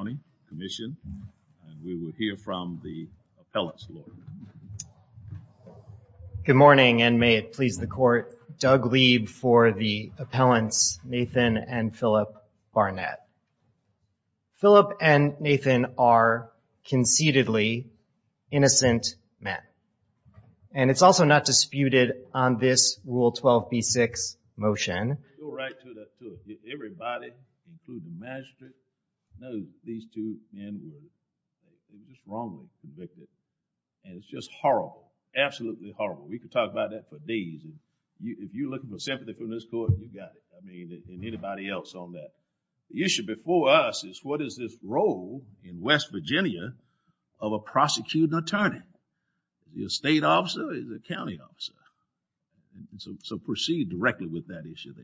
and we will hear from the appellants. Good morning and may it please the court, Doug Lieb for the appellants Nathan and Philip Barnett. Philip and Nathan are conceitedly innocent men and it's also not disputed on this rule 12b6 motion. It's just horrible, absolutely horrible. We could talk about that for days. If you're looking for sympathy from this court, you got it. I mean and anybody else on that. The issue before us is what is this role in West Virginia of a prosecuting attorney? Is it a state officer? Is it a county officer? And so proceed directly with that issue.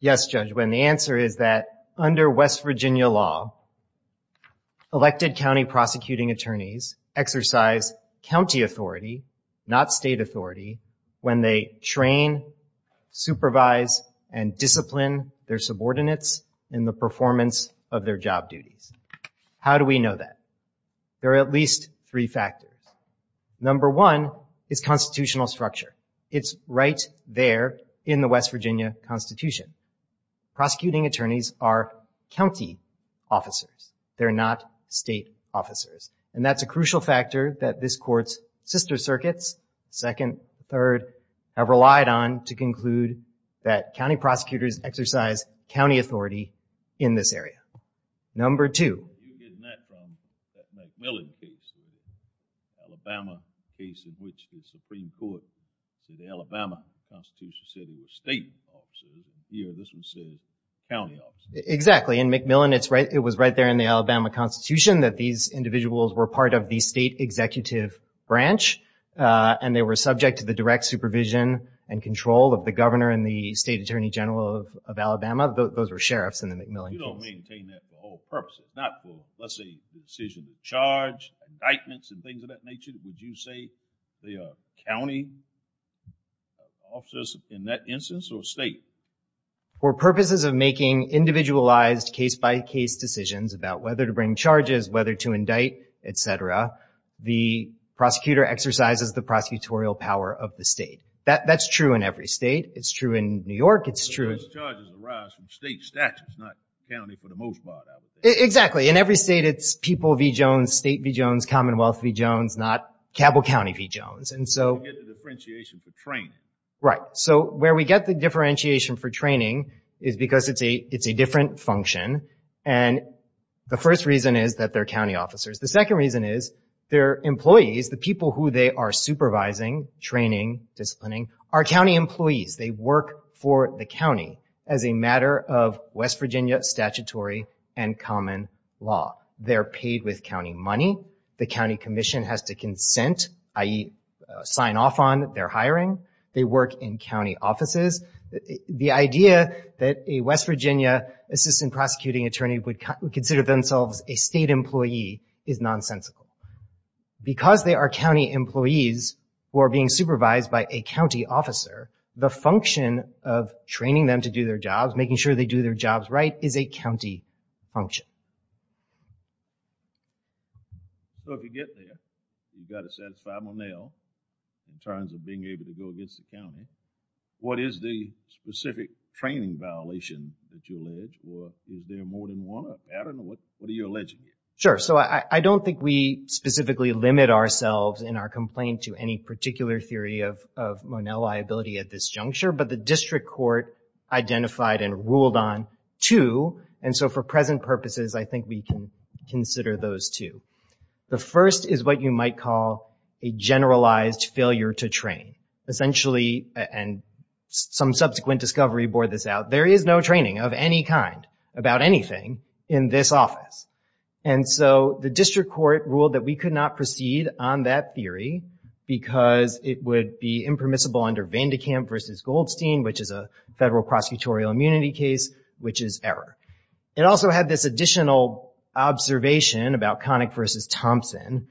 Yes, Judge, when the answer is that under West Virginia law, elected county prosecuting attorneys exercise county authority, not state authority, when they train, supervise, and discipline their subordinates in the performance of their job duties. How do we know that? There are at least three factors. Number one is constitutional structure. It's right there in the West Virginia Constitution. Prosecuting attorneys are county officers. They're not state officers and that's a crucial factor that this court's sister circuits, second, third, have relied on to conclude that county prosecutors exercise county authority in this area. Number two, you're getting that from that McMillan case, Alabama case in which the Supreme Court, the Alabama Constitution, said it was state officers. Here, this one says county officers. Exactly. In McMillan, it's right, it was right there in the Alabama Constitution that these individuals were part of the state executive branch and they were subject to the direct supervision and control of the governor and the state attorney general of Alabama. Those were sheriffs in the example, let's say the decision to charge, indictments and things of that nature, would you say they are county officers in that instance or state? For purposes of making individualized case-by-case decisions about whether to bring charges, whether to indict, etc., the prosecutor exercises the prosecutorial power of the state. That's in every state it's people v. Jones, state v. Jones, Commonwealth v. Jones, not Cabell County v. Jones. Where we get the differentiation for training is because it's a different function and the first reason is that they're county officers. The second reason is their employees, the people who they are supervising, training, disciplining, are county employees. They work for the county as a they're paid with county money, the County Commission has to consent, i.e. sign off on their hiring, they work in county offices. The idea that a West Virginia assistant prosecuting attorney would consider themselves a state employee is nonsensical. Because they are county employees who are being supervised by a county officer, the function of training them to do their job. So, if you get there, you've got to satisfy Monel in terms of being able to go against the county. What is the specific training violation that you allege, or is there more than one? I don't know, what are you alleging here? Sure, so I don't think we specifically limit ourselves in our complaint to any particular theory of of Monel liability at this juncture, but the district court identified and ruled on two, and so for present purposes I think we can consider those two. The first is what you might call a generalized failure to train. Essentially, and some subsequent discovery bore this out, there is no training of any kind about anything in this office. And so the district court ruled that we could not proceed on that theory because it would be impermissible under Vandekamp versus Goldstein, which is a federal prosecutorial immunity case, which is error. It also had this additional observation about Connick versus Thompson,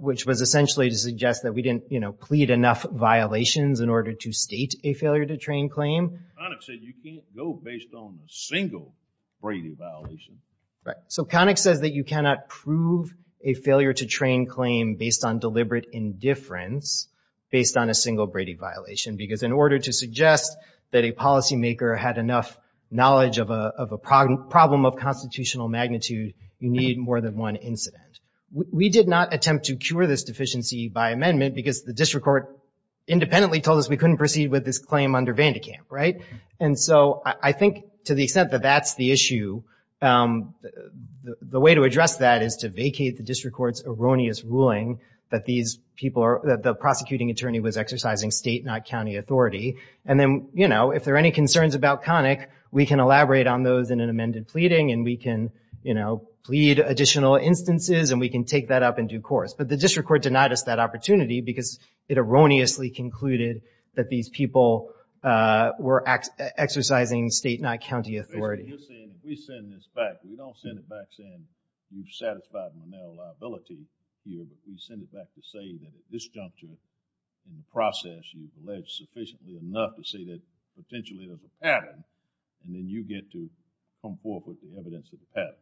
which was essentially to suggest that we didn't, you know, plead enough violations in order to state a failure to train claim. Connick said you can't go based on a single Brady violation. Right, so Connick says that you cannot prove a failure to train claim based on deliberate indifference based on a single Brady violation, because in order to suggest that a policymaker had enough knowledge of a problem of constitutional magnitude, you need more than one incident. We did not attempt to cure this deficiency by amendment because the district court independently told us we couldn't proceed with this claim under Vandekamp, right? And so I think to the extent that that's the issue, the way to address that is to vacate the district court's erroneous ruling that these people are, that the you know, if there are any concerns about Connick, we can elaborate on those in an amended pleading, and we can, you know, plead additional instances, and we can take that up in due course. But the district court denied us that opportunity because it erroneously concluded that these people were exercising state, not enough to say that potentially there's a pattern, and then you get to come forth with the evidence of the pattern.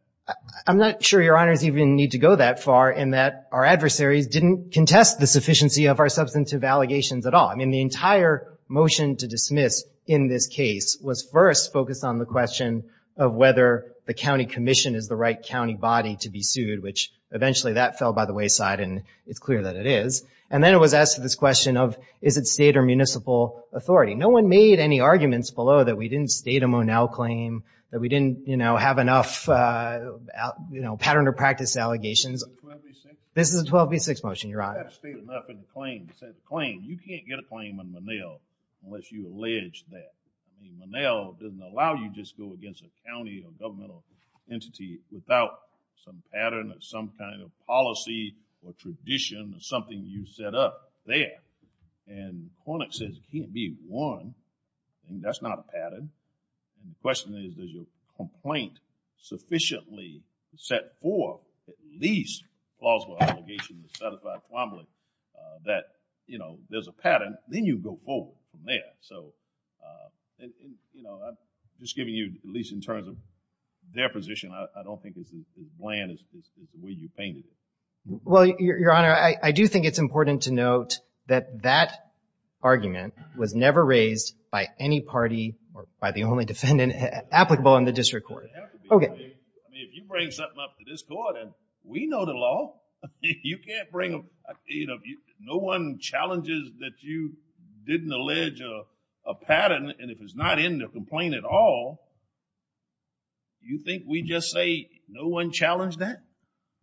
I'm not sure your honors even need to go that far in that our adversaries didn't contest the sufficiency of our substantive allegations at all. I mean, the entire motion to dismiss in this case was first focused on the question of whether the county commission is the right county body to be sued, which eventually that fell by the wayside, and it's clear that it is. And then it was addressed to this question of, is it state or municipal authority? No one made any arguments below that we didn't state a Monell claim, that we didn't, you know, have enough, you know, pattern or practice allegations. This is a 12v6 motion, your honor. You can't get a claim on Monell unless you allege that. Monell doesn't allow you to just go against a county or governmental entity without some pattern or some kind of policy or tradition or something you set up there. And Kornick says it can't be one, and that's not a pattern. The question is, does your complaint sufficiently set forth at least plausible allegations to satisfy Quambley that, you know, there's a pattern, then you go forward from there. So, you know, I'm just giving you at terms of their position. I don't think it's as bland as the way you painted it. Well, your honor, I do think it's important to note that that argument was never raised by any party or by the only defendant applicable in the district court. I mean, if you bring something up to this court and we know the law, you can't bring a, you know, no one challenges that you didn't allege a pattern, and if it's not in the complaint at all, you think we just say, no one challenged that?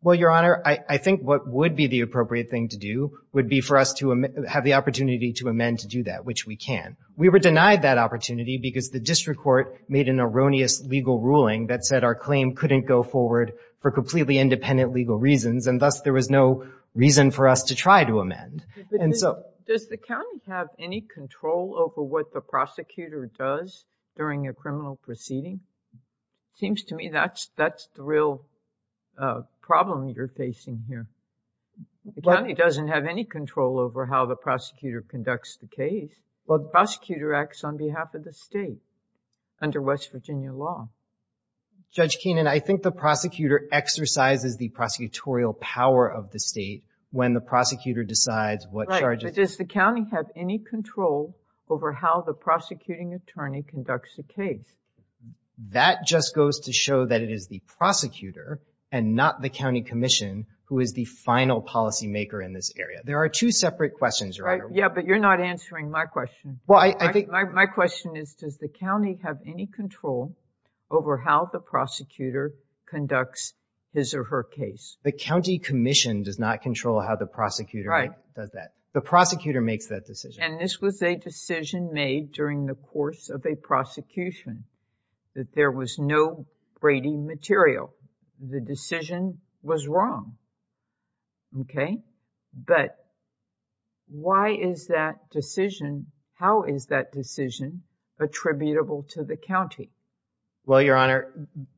Well, your honor, I think what would be the appropriate thing to do would be for us to have the opportunity to amend to do that, which we can. We were denied that opportunity because the district court made an erroneous legal ruling that said our claim couldn't go forward for completely independent legal reasons, and thus there was no reason for us to try to amend. And so... Does the county have any control over what the prosecutor does during a criminal proceeding? Seems to me that's the real problem you're facing here. The county doesn't have any control over how the prosecutor conducts the case, but the prosecutor acts on behalf of the state under West Virginia law. Judge Keenan, I think the prosecutor exercises the prosecutorial power of the state when the prosecutor decides what charges... But does the county have any control over how the prosecuting attorney conducts a case? That just goes to show that it is the prosecutor and not the county commission who is the final policymaker in this area. There are two separate questions, your honor. Yeah, but you're not answering my question. Well, I think... My question is, does the county have any control over how the prosecutor conducts his or her case? The county commission does not control how the prosecutor does that. The prosecutor makes that decision. And this was a decision made during the course of a prosecution that there was no Brady material. The decision was wrong. Okay? But why is that decision... How is that decision attributable to the county? Well, your honor,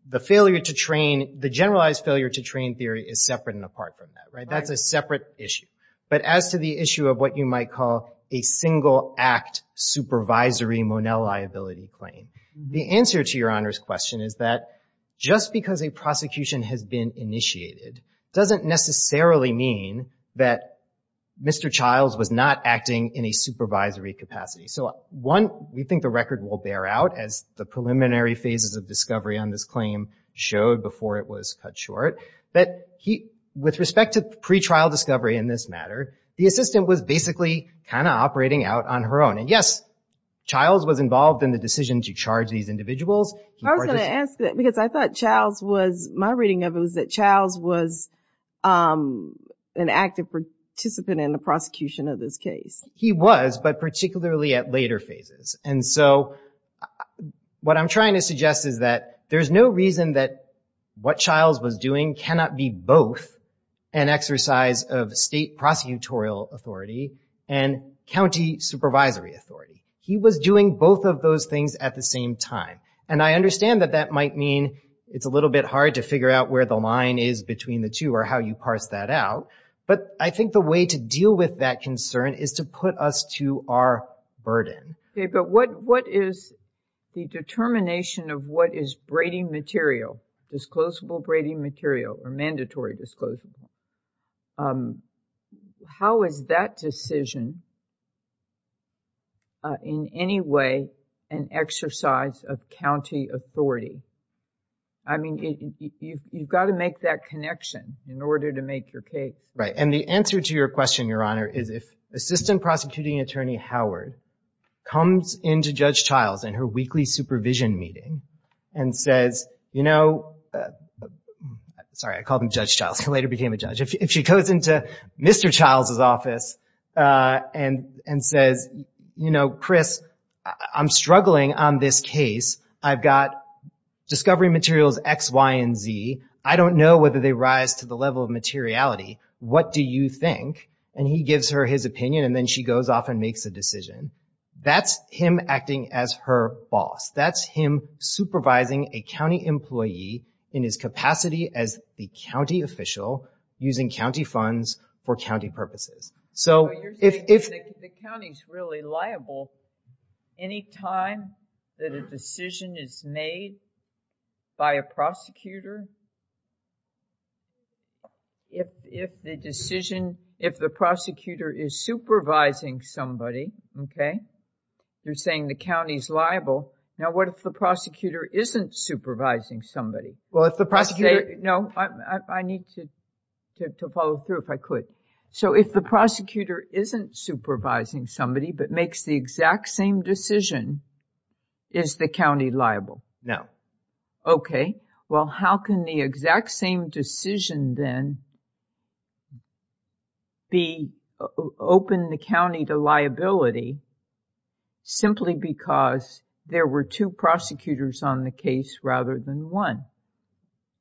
the failure to train... The generalized failure to train theory is separate and apart from that. That's a separate issue. But as to the issue of what you might call a single act supervisory Monell liability claim, the answer to your honor's question is that just because a prosecution has been initiated doesn't necessarily mean that Mr. Childs was not acting in a supervisory capacity. So one, we think the record will bear out as the preliminary phases of discovery on this claim showed before it was cut short. But with respect to pre-trial discovery in this matter, the assistant was basically kind of operating out on her own. And yes, Childs was involved in the decision to charge these individuals. I was going to ask that because I thought Childs was... My reading of it was that Childs was an active participant in the prosecution of this case. He was, but particularly at later phases. And so what I'm trying to suggest is that there's no reason that what Childs was doing cannot be both an exercise of state prosecutorial authority and county supervisory authority. He was doing both of those things at the same time. And I understand that that might mean it's a little bit hard to figure out where the line is between the two or how you parse that out. But I think the way to deal with that concern is to put us to our burden. Okay. But what is the determination of what is Brady material, disclosable Brady material or mandatory disclosable? How is that decision in any way an exercise of county authority? I mean, you've got to make that connection in order to make your case. Right. And the answer to your question, Your Honor, is if Assistant Prosecuting Attorney Howard comes into Judge Childs in her weekly supervision meeting and says, you know, sorry, I called him Judge Childs. He later became a judge. If she goes into Mr. Childs's office and says, you know, Chris, I'm struggling on this case. I've got discovery materials, X, Y, and Z. I don't know whether they rise to the level of materiality. What do you think? And he gives her his opinion and then she goes off and makes a decision. That's him acting as her boss. That's him supervising a county employee in his capacity as the county official using county funds for county purposes. So if the county's really liable, any time that a decision is made by a prosecutor, if the decision, if the prosecutor is supervising somebody, okay, they're saying the county's liable. Now, what if the prosecutor isn't supervising somebody? Well, if the prosecutor... No, I need to follow through if I could. So if the prosecutor isn't supervising somebody but makes the exact same decision, is the county liable? No. Okay. Well, how can the exact same decision then be, open the county to liability simply because there were two prosecutors on the case rather than one?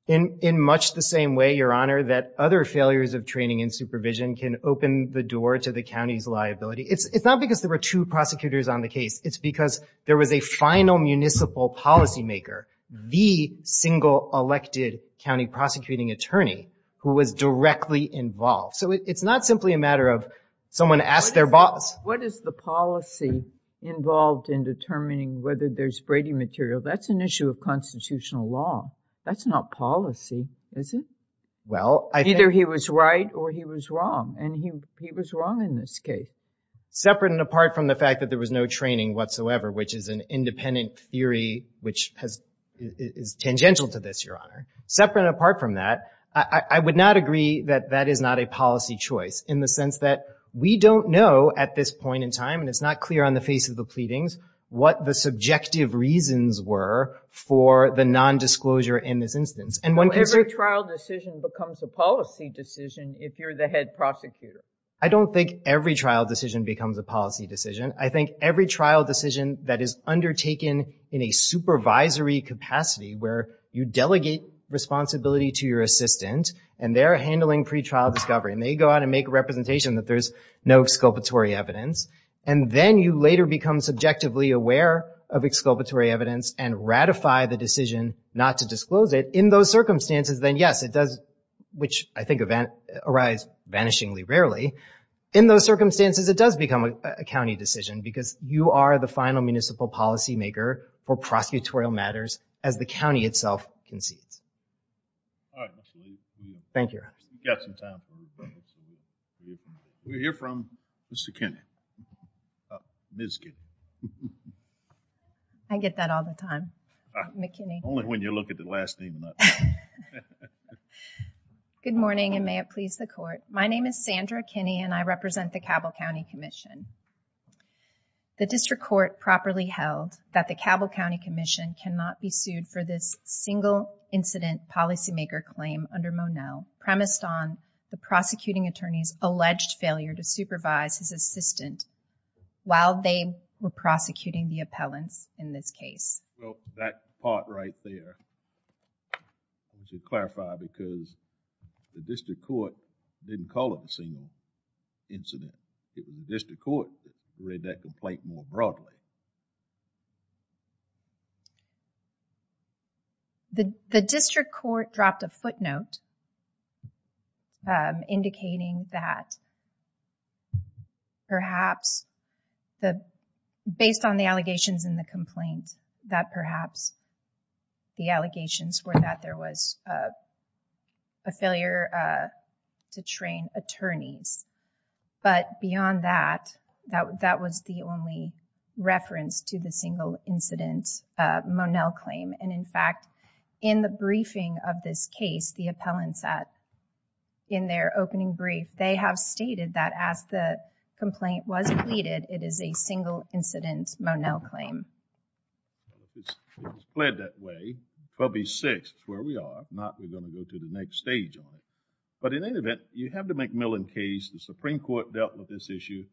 In much the same way, Your Honor, that other failures of training and two prosecutors on the case, it's because there was a final municipal policymaker, the single elected county prosecuting attorney who was directly involved. So it's not simply a matter of someone asked their boss... What is the policy involved in determining whether there's Brady material? That's an issue of constitutional law. That's not policy, is it? Well, I think... Either he was right or he was wrong and he was wrong in this case. Separate and apart from the fact that there was no training whatsoever, which is an independent theory, which is tangential to this, Your Honor. Separate and apart from that, I would not agree that that is not a policy choice in the sense that we don't know at this point in time, and it's not clear on the face of the pleadings, what the subjective reasons were for the non-disclosure in this instance. Every trial decision becomes a policy decision if you're the head prosecutor. I don't think every trial decision becomes a policy decision. I think every trial decision that is undertaken in a supervisory capacity where you delegate responsibility to your assistant and they're handling pretrial discovery, and they go out and make a representation that there's no exculpatory evidence, and then you later become subjectively aware of exculpatory evidence and ratify the decision not to disclose it in those circumstances, then yes, it does... which I think arise vanishingly rarely. In those circumstances, it does become a county decision because you are the final municipal policymaker for prosecutorial matters as the county itself concedes. All right, Mr. Lee. Thank you, Your Honor. We've got some time. We'll hear from Mr. Kinney. Ms. Kinney. I get that all the time. McKinney. Only when you look at the last name. Good morning, and may it please the court. My name is Sandra Kinney, and I represent the Cabell County Commission. The district court properly held that the Cabell County Commission cannot be sued for this single incident policymaker claim under Monell, premised on the prosecuting attorney's alleged failure to supervise his assistant while they were prosecuting the district court didn't call it a single incident. It was the district court that read that complaint more broadly. The district court dropped a footnote indicating that perhaps the... based on the allegations in the complaint, that perhaps the allegations were that there was a failure to train attorneys, but beyond that, that was the only reference to the single incident Monell claim, and in fact, in the briefing of this case, the appellants at in their opening brief, they have stated that as the complaint was pleaded, it is a single incident Monell claim. If it's pled that way, 12B6 is where we are. If not, we're going to go to the next stage on it, but in any event, you have the McMillan case. The Supreme Court dealt with this issue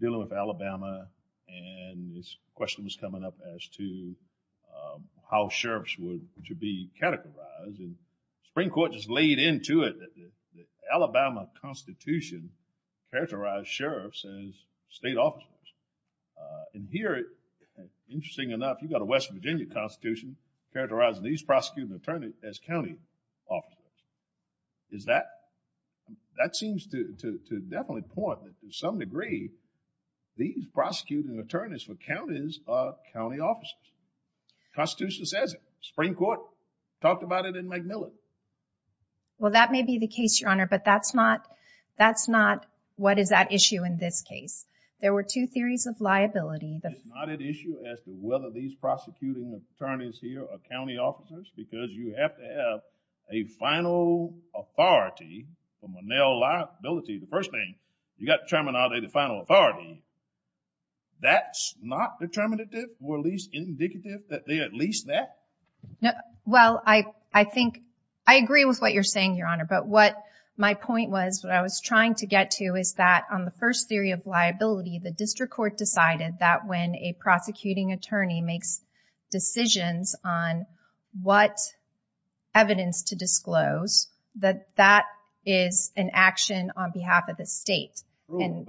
dealing with Alabama, and this question was coming up as to how sheriffs were to be categorized, and the Supreme Court just laid into it that the Alabama Constitution characterized sheriffs as state officers, and here, interesting enough, you've got a West Virginia Constitution characterizing these prosecuting attorneys as county officers. Is that... that seems to definitely point that to some degree, these prosecuting attorneys for counties are county officers. Constitution says it. Supreme Court talked about it in McMillan. Well, that may be the case, but that's not... that's not what is at issue in this case. There were two theories of liability. It's not at issue as to whether these prosecuting attorneys here are county officers because you have to have a final authority for Monell liability. The first thing, you got to terminate the final authority. That's not determinative or at least indicative that they're at least that? Well, I think... I agree with what you're saying, Your Honor, but what my point was, what I was trying to get to is that on the first theory of liability, the District Court decided that when a prosecuting attorney makes decisions on what evidence to disclose, that that is an action on behalf of the state. True,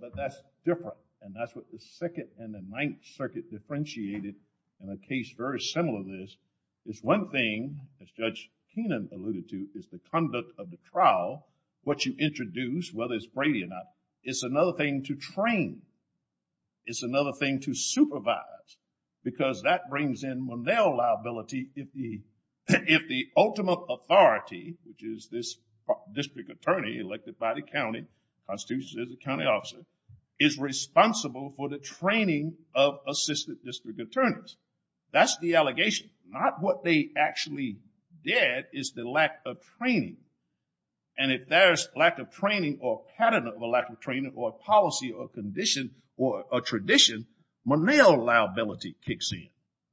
but that's different, and that's what the Second and the Ninth Circuit differentiated in a case very similar to this. It's one thing, as Judge Keenan alluded to, is the conduct of the trial. What you introduce, whether it's Brady or not, it's another thing to train. It's another thing to supervise because that brings in Monell liability if the... if the ultimate authority, which is this district attorney elected by the county, Constitution says it's a county officer, is responsible for the training of assistant district attorneys. That's the allegation. Not what they actually did is the lack of training, and if there's lack of training or pattern of a lack of training or policy or condition or a tradition, Monell liability kicks in.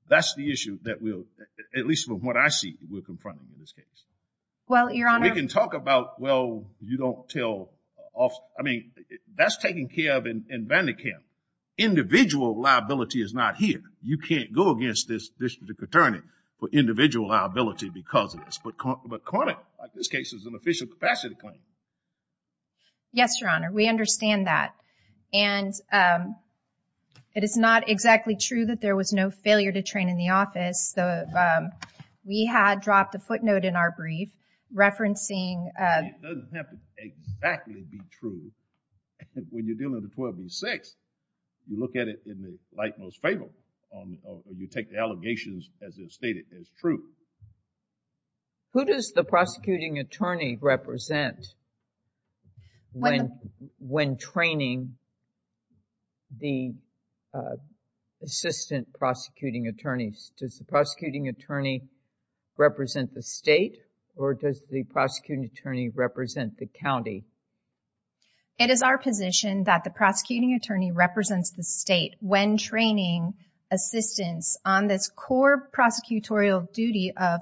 That's the issue that we'll, at least from what I see, we'll confront in this case. Well, Your Honor... We can talk about, well, you don't tell... I mean, that's taking care of in Vandekamp. Individual liability is not here. You can't go against this district attorney for individual liability because of this, but Cormick, like this case, is an official capacity claim. Yes, Your Honor, we understand that, and it is not exactly true that there was no failure to train in the office. We had dropped a footnote in our brief referencing... It doesn't have to exactly be true. When you're dealing with 12 v. 6, you look at it in the light most favorable, or you take the allegations as if stated as true. Who does the prosecuting attorney represent when training the assistant prosecuting attorneys? Does the prosecuting attorney represent the state, or does the prosecuting attorney represent the county? It is our position that the prosecuting attorney represents the state when training assistants on this core prosecutorial duty of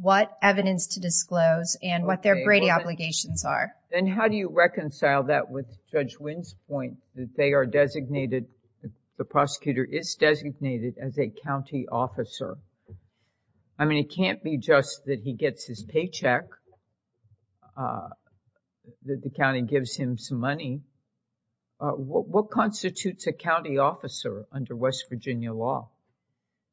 what evidence to disclose and what their Brady obligations are. Then how do you reconcile that with Judge Wynn's point that they are designated, the prosecutor is designated as a county officer? I mean, it can't be just that he gets his paycheck, that the county gives him some money. What constitutes a county officer under West Virginia law?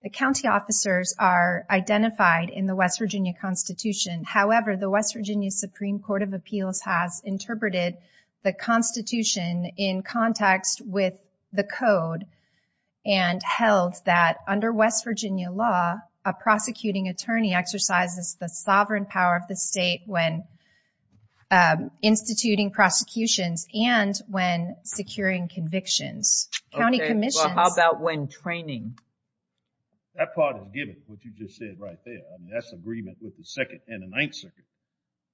The county officers are identified in the West Virginia Constitution. However, the West Virginia Supreme Court of Appeals has interpreted the Constitution in context with the code and held that under West Virginia law, a prosecuting attorney exercises the sovereign power of the state when instituting prosecutions and when securing convictions. County commissions... How about when training? That part is given, what you just said right there. I mean, that's agreement with the Second and the Ninth Circuit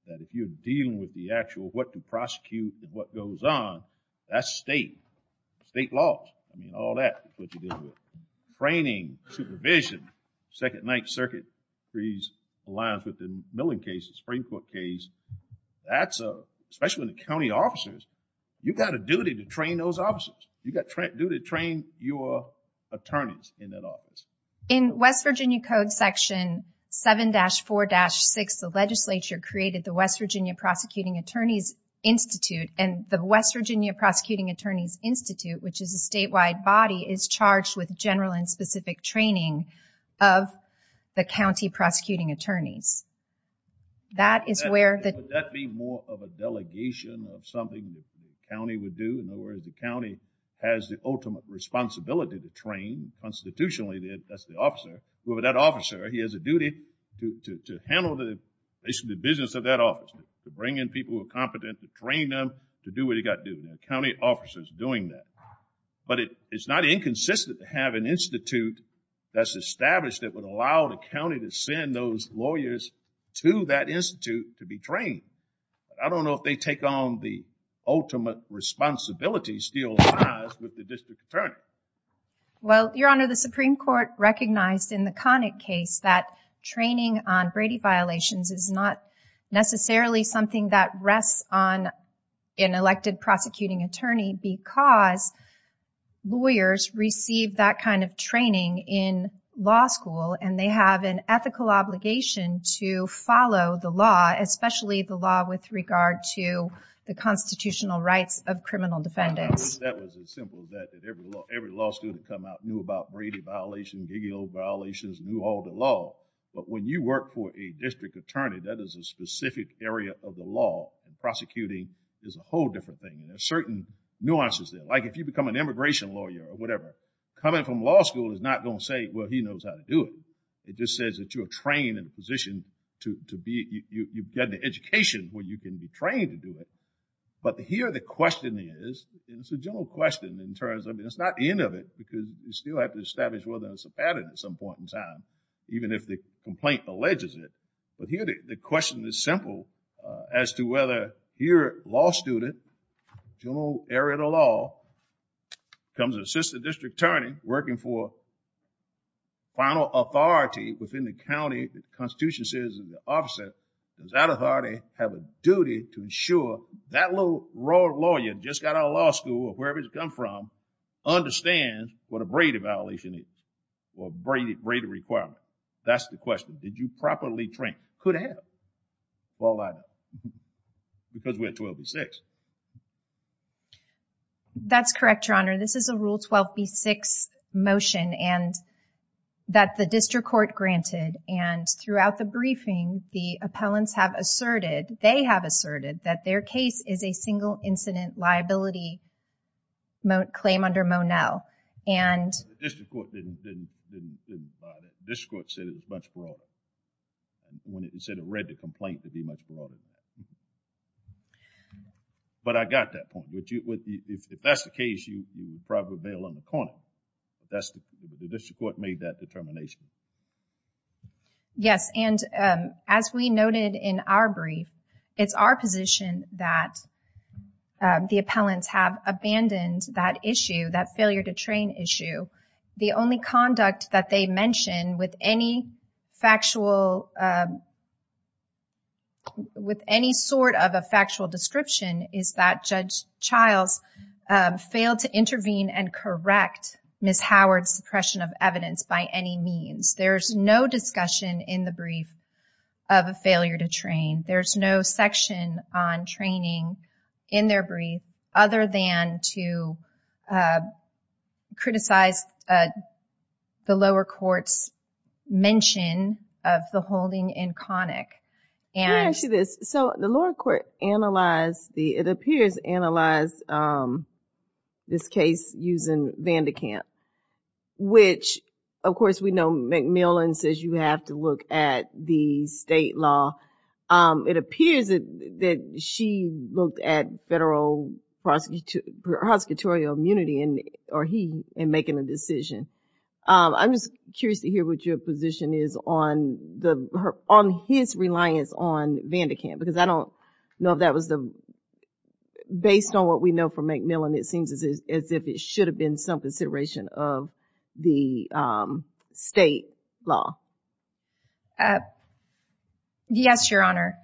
that if you're dealing with the actual what to prosecute and what goes on, that's state, state laws. I mean, all that is what you're dealing with. Training, supervision, Second and Ninth Circuit, these aligns with the Milling case, the Supreme Court case. That's a, especially when the county officers, you've got a duty to train those officers. You've got a duty to train your attorneys in that office. In West Virginia Code Section 7-4-6, the legislature created the West Virginia Prosecuting Attorneys Institute and the West Virginia Prosecuting Attorneys Institute, which is a statewide body, is charged with general and specific training of the county prosecuting attorneys. That is where... Would that be more of a delegation of something the county would do? In other words, the county has the ultimate responsibility to train constitutionally. That's the officer. Whoever that officer, he has a duty to handle the business of that office, to bring in people who are competent, to train them, to do what he got to do. The county officer's doing that. But it's not inconsistent to have an institute that's established that would allow the county to send those lawyers to that institute to be trained. I don't know if they take on the ultimate responsibility still with the district attorney. Well, Your Honor, the Supreme Court recognized in the Connick case that training on Brady violations is not necessarily something that rests on an elected prosecuting attorney because lawyers receive that kind of training in law school and they have an ethical obligation to follow the law, especially the law with regard to the constitutional rights of criminal defendants. That was as simple as that. Every law student that come out knew about Brady violations, Gigio violations, knew all the law. But when you work for a district attorney, that is a specific area of the law. Prosecuting is a whole different thing. There are certain nuances there. Like if you become an immigration lawyer or whatever, coming from law school is not going to say, well, he knows how to do it. It just says that you're trained in a position to be, you've got the education where you can be trained to do it. But here the question is, and it's a general question in terms of, it's not the end of it because you still have to establish whether it's a pattern at some point in time, even if the complaint alleges it. But here the question is simple as to whether here a law student, general area of the law, becomes an assistant district attorney working for final authority within the county, the constitution says in the office, does that authority have a duty to ensure that little royal lawyer just got out of law school or wherever he's come from understands what a Brady violation is or Brady requirement. That's the question. Did you properly train? Could have. Well, I don't. Because we're 12 and 6. That's correct, Your Honor. This is a rule 12B6 motion and that the district court granted. And throughout the briefing, the appellants have asserted, they have asserted that their case is a single incident liability claim under Monell. And. The district court didn't buy that. The district court said it was much broader. When it said it read the complaint to be much broader than that. But I got that point. If that's the case, you probably bail on the corner. That's the district court made that determination. Yes. And as we noted in our brief, it's our position that the appellants have abandoned that issue, that failure to train issue. The only sort of a factual description is that Judge Childs failed to intervene and correct Miss Howard's suppression of evidence by any means. There's no discussion in the brief of a failure to train. There's no section on training in their brief other than to criticize the lower court's mention of the holding in Connick. And. Let me ask you this. So the lower court analyzed the, it appears, analyzed this case using Vandekamp, which, of course, we know MacMillan says you have to look at the state law. It appears that she looked at federal prosecutorial immunity, or he, in making a decision. I'm just curious to hear what your position is on his reliance on Vandekamp, because I don't know if that was the, based on what we know from MacMillan, it seems as if it should have been some consideration of the state law. Uh. Yes, Your Honor.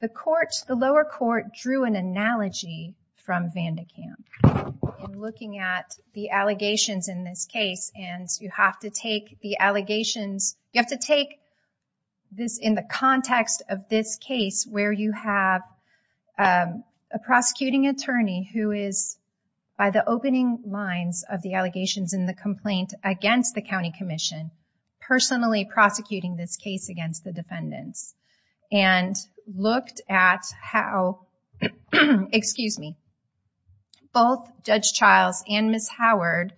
The court, the lower court, drew an analogy from Vandekamp in looking at the allegations in this case. And you have to take the allegations, you have to take this in the context of this case where you have a prosecuting attorney who is, by the opening lines of the allegations in the complaint against the county commission, personally prosecuting this case against the defendants. And looked at how, excuse me, both Judge Childs and Ms. Howard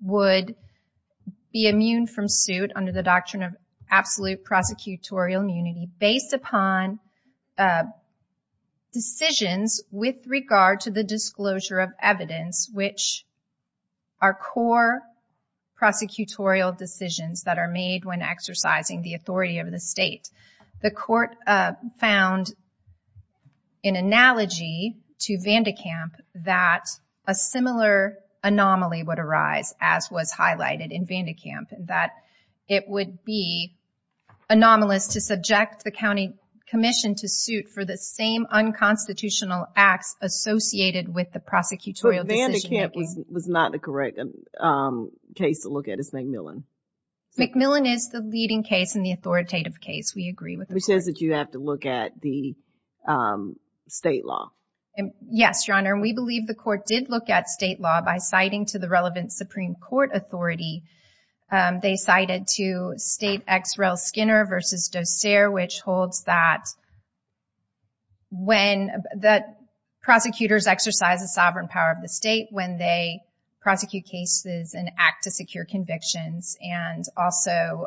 would be immune from suit under the doctrine of absolute prosecutorial immunity based upon decisions with regard to the disclosure of our core prosecutorial decisions that are made when exercising the authority of the state. The court found an analogy to Vandekamp that a similar anomaly would arise, as was highlighted in Vandekamp, that it would be anomalous to subject the county commission to suit for the same unconstitutional acts associated with the prosecutorial decision making. But Vandekamp was not the correct case to look at. It's MacMillan. MacMillan is the leading case in the authoritative case. We agree with the court. Which says that you have to look at the state law. Yes, Your Honor. And we believe the court did look at state law by citing to the relevant Supreme Court authority. They cited to State Ex Rel Skinner v. Dossier, which holds that when the prosecutors exercise the sovereign power of the state, when they prosecute cases and act to secure convictions, and also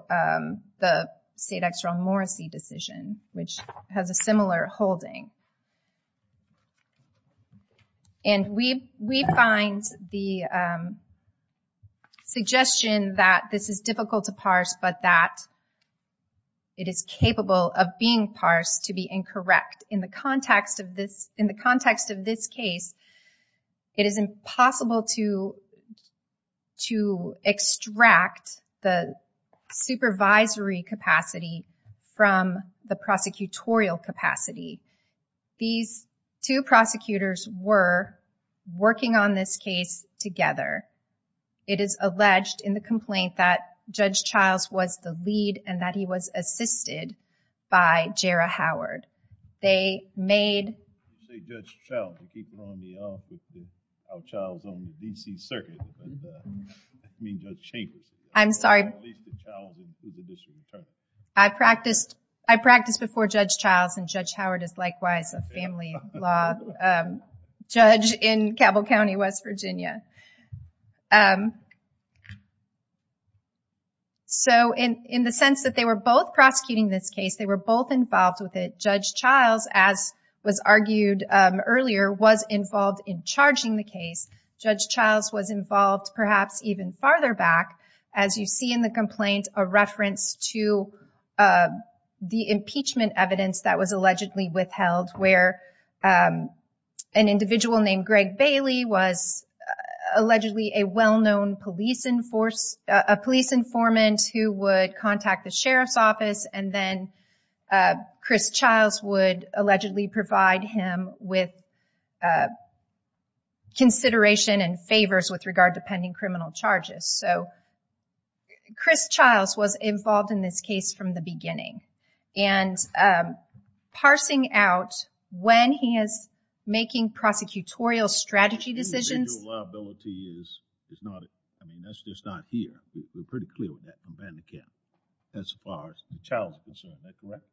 the State Ex Rel Morrissey decision, which has a similar holding. And we find the suggestion that this is difficult to parse, but that it is capable of being parsed to be incorrect. In the context of this case, it is impossible to extract the supervisory capacity from the prosecutorial capacity. These two prosecutors were working on this case together. It is alleged in the complaint that he was assisted by Jarrah Howard. They made... I practiced before Judge Childs, and Judge Howard is likewise a family law judge in Cabell County, West Virginia. So, in the sense that they were both prosecuting this case, they were both involved with it, Judge Childs, as was argued earlier, was involved in charging the case. Judge Childs was involved, perhaps even farther back, as you see in the complaint, a reference to the impeachment evidence that was allegedly withheld, where an individual named Greg Bailey was allegedly a well-known police informant who would contact the sheriff's office, and then Chris Childs would allegedly provide him with consideration and favors with regard to pending criminal charges. So, Chris Childs was involved in this case from the beginning. And parsing out when he is making prosecutorial strategy decisions... Individual liability is not... I mean, that's just not here. We're pretty clear with that from Bandicam as far as the Childs is concerned. Is that correct?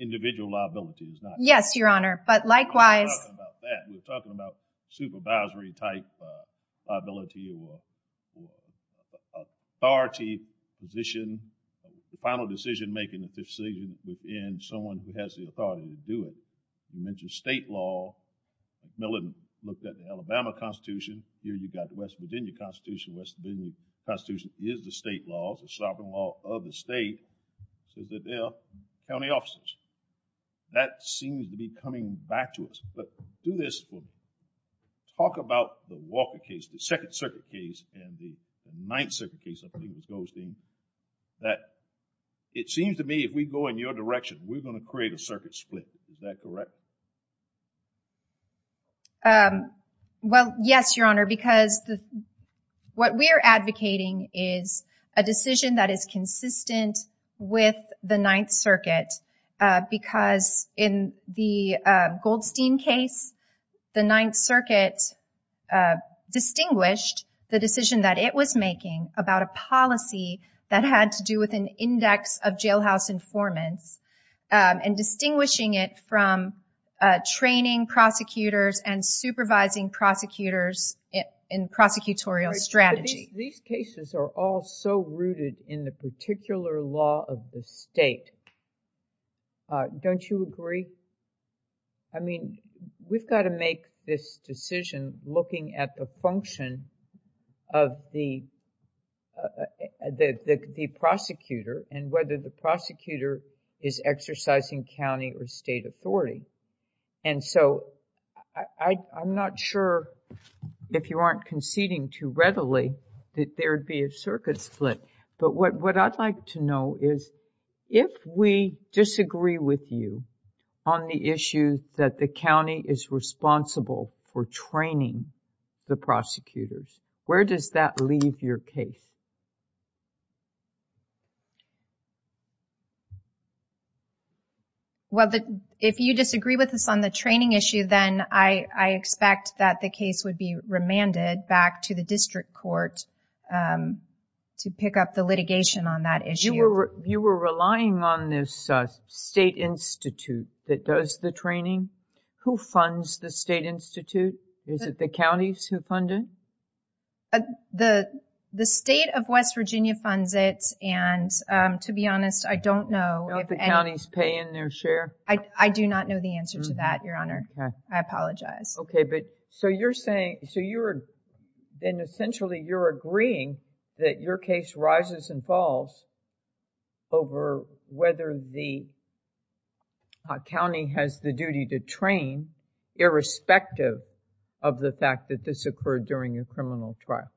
Individual liability is not... Yes, Your Honor. But likewise... We're not talking about that. We're talking about supervisory-type liability or authority position, the final decision-making decision within someone who has the authority to do it. You mentioned state law. Miller looked at the Alabama Constitution. Here you've got the West Virginia Constitution. The West Virginia Constitution is the state law. It's the sovereign law of the state. It says that they are county officers. That seems to be coming back to us. Do this. Talk about the Walker case, the Second Circuit case, and the Ninth Circuit case, I think it was Goldstein, that it seems to me if we go in your direction, we're going to create a circuit split. Is that correct? Well, yes, Your Honor, because what we're advocating is a decision that is consistent with the Ninth Circuit because in the Goldstein case, the Ninth Circuit distinguished the decision that it was making about a policy that had to do with an index of jailhouse informants and distinguishing it from training prosecutors and supervising prosecutors in prosecutorial strategy. These cases are all so rooted in the particular law of the state. Don't you agree? I mean, we've got to make this decision looking at the function of the prosecutor and whether the prosecutor is exercising county or state authority. I'm not sure if you aren't conceding too readily that there would be a circuit split, but what I'd like to know is if we disagree with you on the issue that the county is responsible for training the prosecutors, where does that leave your case? Well, if you disagree with us on the training issue, then I expect that the case would be brought to the district court to pick up the litigation on that issue. You were relying on this state institute that does the training. Who funds the state institute? Is it the counties who fund it? The state of West Virginia funds it, and to be honest, I don't know. Don't the counties pay in their share? I do not know the answer to that, Your Honor. I apologize. So you're saying, then essentially you're agreeing that your case rises and falls over whether the county has the duty to train irrespective of the fact that this occurred during your criminal trial.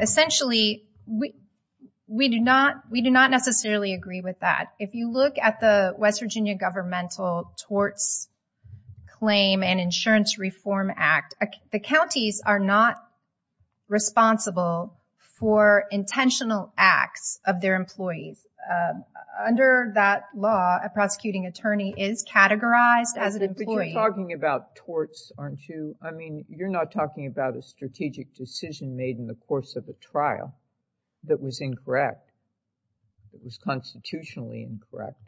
Essentially, we do not necessarily agree with that. If you look at the West Virginia Governmental Torts Claim and Insurance Reform Act, the counties are not responsible for intentional acts of their employees. Under that law, a prosecuting attorney is categorized as an employee. But you're talking about torts. I mean, you're not talking about a strategic decision made in the course of a trial that was incorrect, that was constitutionally incorrect.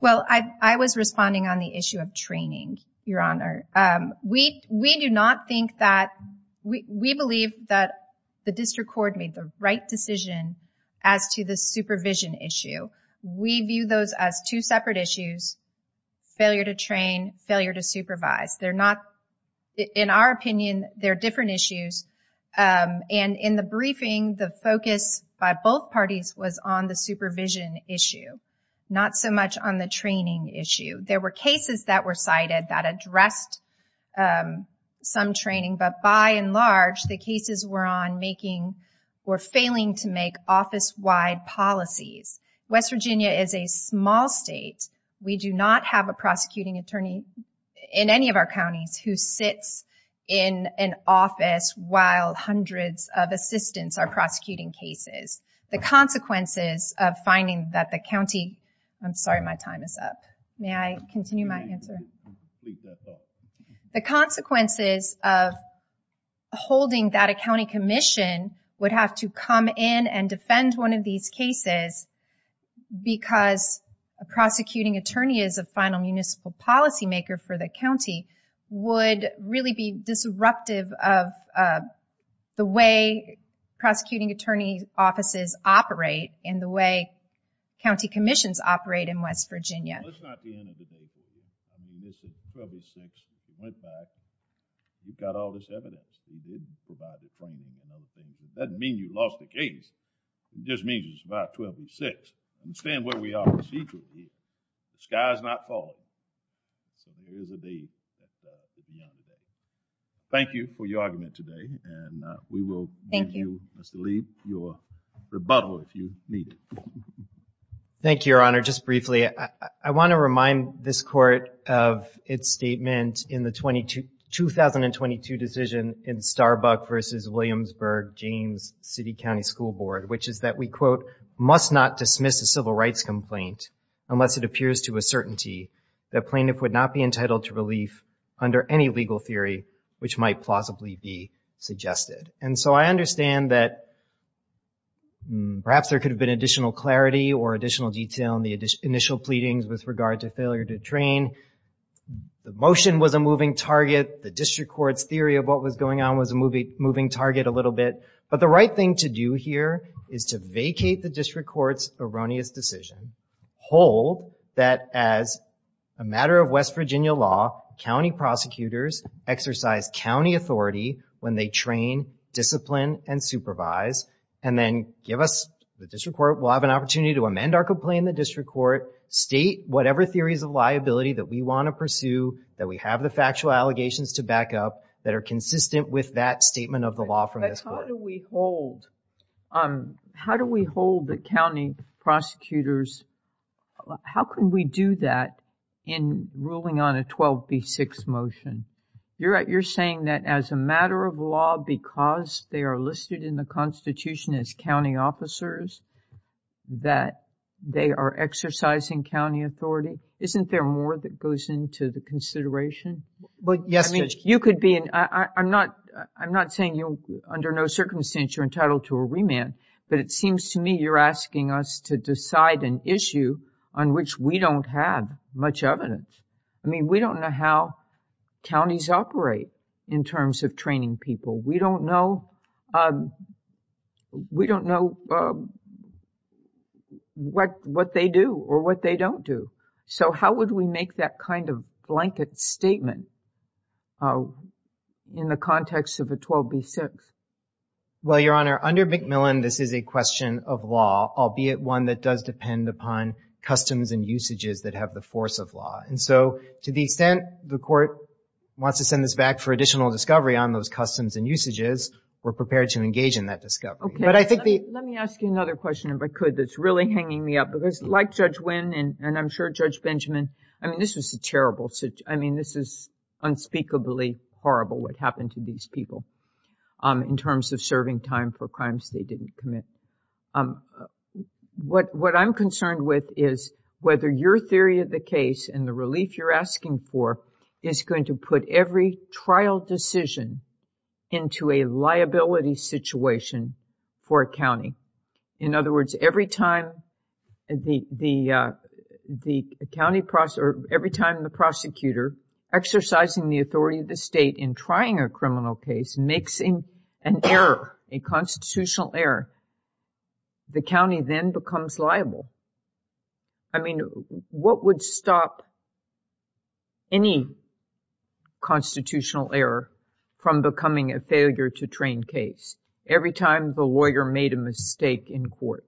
Well, I was responding on the issue of training, Your Honor. We believe that the district court made the right decision as to the supervision issue. We view those as two separate issues, failure to train, failure to supervise. In our opinion, they're different issues. And in the briefing, the focus by both parties was on the supervision issue, not so much on the training issue. There were cases that were cited that addressed some training, but by and large, the cases were failing to make office-wide policies. West Virginia is a small state. We do not have a prosecuting attorney in any of our counties who sits in an office while hundreds of assistants are prosecuting cases. The consequences of finding that the county... I'm sorry, my time is up. May I continue my answer? The consequences of holding that a county commission would have to come in and defend one of these cases because a prosecuting attorney is a final municipal policymaker for the county would really be disruptive of the way prosecuting attorney offices operate and the way county commissions operate in West Virginia. Well, it's not the end of the day, Julie. I mean, this is trouble six. We went back. We've got all this evidence. We did provide the training and other things. It doesn't mean you lost the case. It just means it's about 12 and six. I understand where we are procedurally. The sky's not falling. So there is a day. Thank you for your argument today. And we will give you, Mr. Lee, your rebuttal if you need it. Thank you, your honor. Just briefly, I want to remind this court of its statement in the 2022 decision in Starbuck versus Williamsburg James City County School Board, which is that we, quote, must not dismiss a civil rights complaint unless it appears to a certainty that plaintiff would not be entitled to relief under any legal theory which might plausibly be suggested. And so I understand that perhaps there could have been additional clarity or additional detail in initial pleadings with regard to failure to train. The motion was a moving target. The district court's theory of what was going on was a moving target a little bit. But the right thing to do here is to vacate the district court's erroneous decision, hold that as a matter of West Virginia law, county prosecutors exercise county authority when they train, discipline, and supervise, and then give us, the district court will have an opportunity to amend our complaint in the district court, state whatever theories of liability that we want to pursue, that we have the factual allegations to back up that are consistent with that statement of the law from this court. But how do we hold, how do we hold the county prosecutors, how can we do that in ruling on a 12B6 motion? You're saying that as a matter of law, because they are listed in the constitution as county officers, that they are exercising county authority? Isn't there more that goes into the consideration? I'm not saying under no circumstance you're entitled to a remand, but it seems to me you're asking us to decide an issue on which we don't have much evidence. I mean, we don't know how counties operate in terms of training people. We don't know, we don't know what, what they do or what they don't do. So how would we make that kind of blanket statement in the context of a 12B6? Well, Your Honor, under McMillan, this is a question of law, albeit one that does depend upon customs and usages that have the force of law. To the extent the court wants to send this back for additional discovery on those customs and usages, we're prepared to engage in that discovery. Let me ask you another question, if I could, that's really hanging me up, because like Judge Wynn and I'm sure Judge Benjamin, I mean, this is a terrible, I mean, this is unspeakably horrible what happened to these people in terms of serving time for crimes they didn't commit. What I'm concerned with is whether your theory of the case and the relief you're asking for is going to put every trial decision into a liability situation for a county. In other words, every time the county prosecutor, every time the prosecutor exercising the authority of the state in trying a criminal case makes an error, a constitutional error, the county then becomes liable. I mean, what would stop any constitutional error from becoming a failure to train case every time the lawyer made a mistake in court?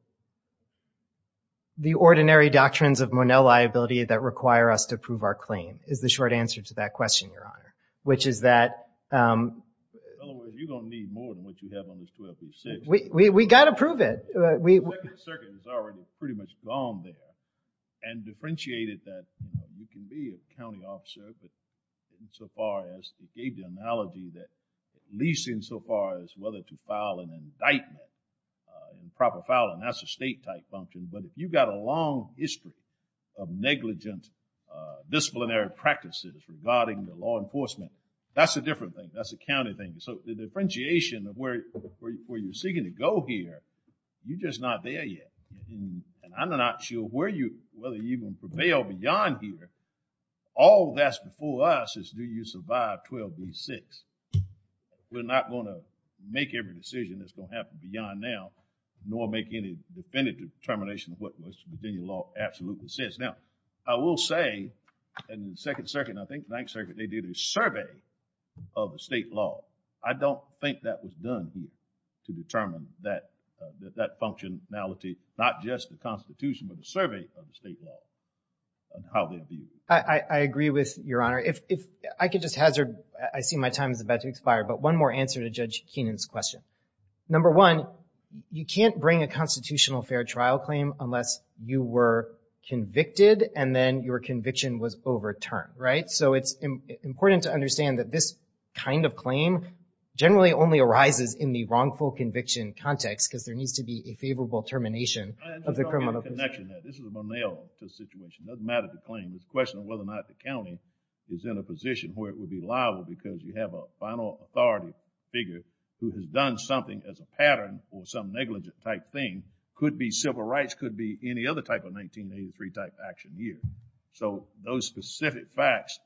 The ordinary doctrines of Monell liability that require us to prove our claim is the short answer to that question, Your Honor, which is that. In other words, you're going to need more than what you have on this 1236. We got to prove it. The second circuit is already pretty much gone there and differentiated that you can be a county officer, but insofar as it gave the analogy that at least insofar as whether to file an indictment in proper filing, that's a state type function. But if you've got a long history of negligent disciplinary practices regarding the law enforcement, that's a different thing. That's a county thing. So the differentiation of where you're seeking to go here, you're just not there yet. And I'm not sure where you, whether you can prevail beyond here. All that's before us is do you survive 1236. We're not going to make every decision that's going to happen beyond now, nor make any definitive determination of what Virginia law absolutely says. Now, I will say in the second circuit, and I think ninth circuit, they did a survey of the state law. I don't think that was done here to determine that functionality, not just the constitution, but the survey of the state law and how they viewed it. I agree with Your Honor. If I could just hazard, I see my time is about to expire, but one more answer to Judge Keenan's question. Number one, you can't bring a constitutional fair trial claim unless you were convicted and then your conviction was overturned, right? So it's important to understand that this kind of claim generally only arises in the wrongful conviction context, because there needs to be a favorable termination of the criminal. I just want to make a connection there. This is a Monell situation. It doesn't matter the claim. It's a question of whether or not the county is in a position where it would be liable because you have a final authority figure who has done something as a pattern or some negligent type thing. Could be civil rights, could be any other type of 1983 type action here. So those specific facts,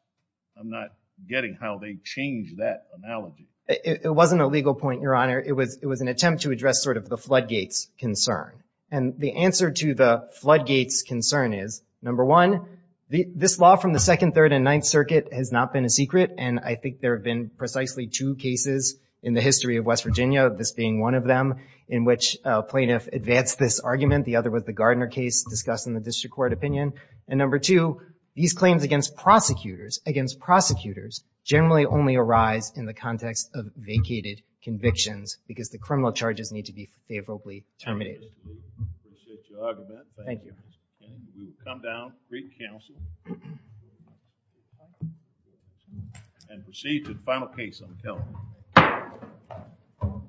I'm not getting how they change that analogy. It wasn't a legal point, Your Honor. It was an attempt to address sort of the floodgates concern, and the answer to the floodgates concern is, number one, this law from the second, third, and ninth circuit has not been a secret, and I think there have been precisely two cases in the history of West Virginia, this being one of them, in which a plaintiff advanced this argument. The other was the Gardner case discussed in the district court opinion, and number two, these claims against prosecutors, against prosecutors, generally only arise in the context of vacated convictions because the criminal charges need to be favorably terminated. I appreciate your argument. Thank you. We will come down, greet counsel, and proceed to the final case on the telephone.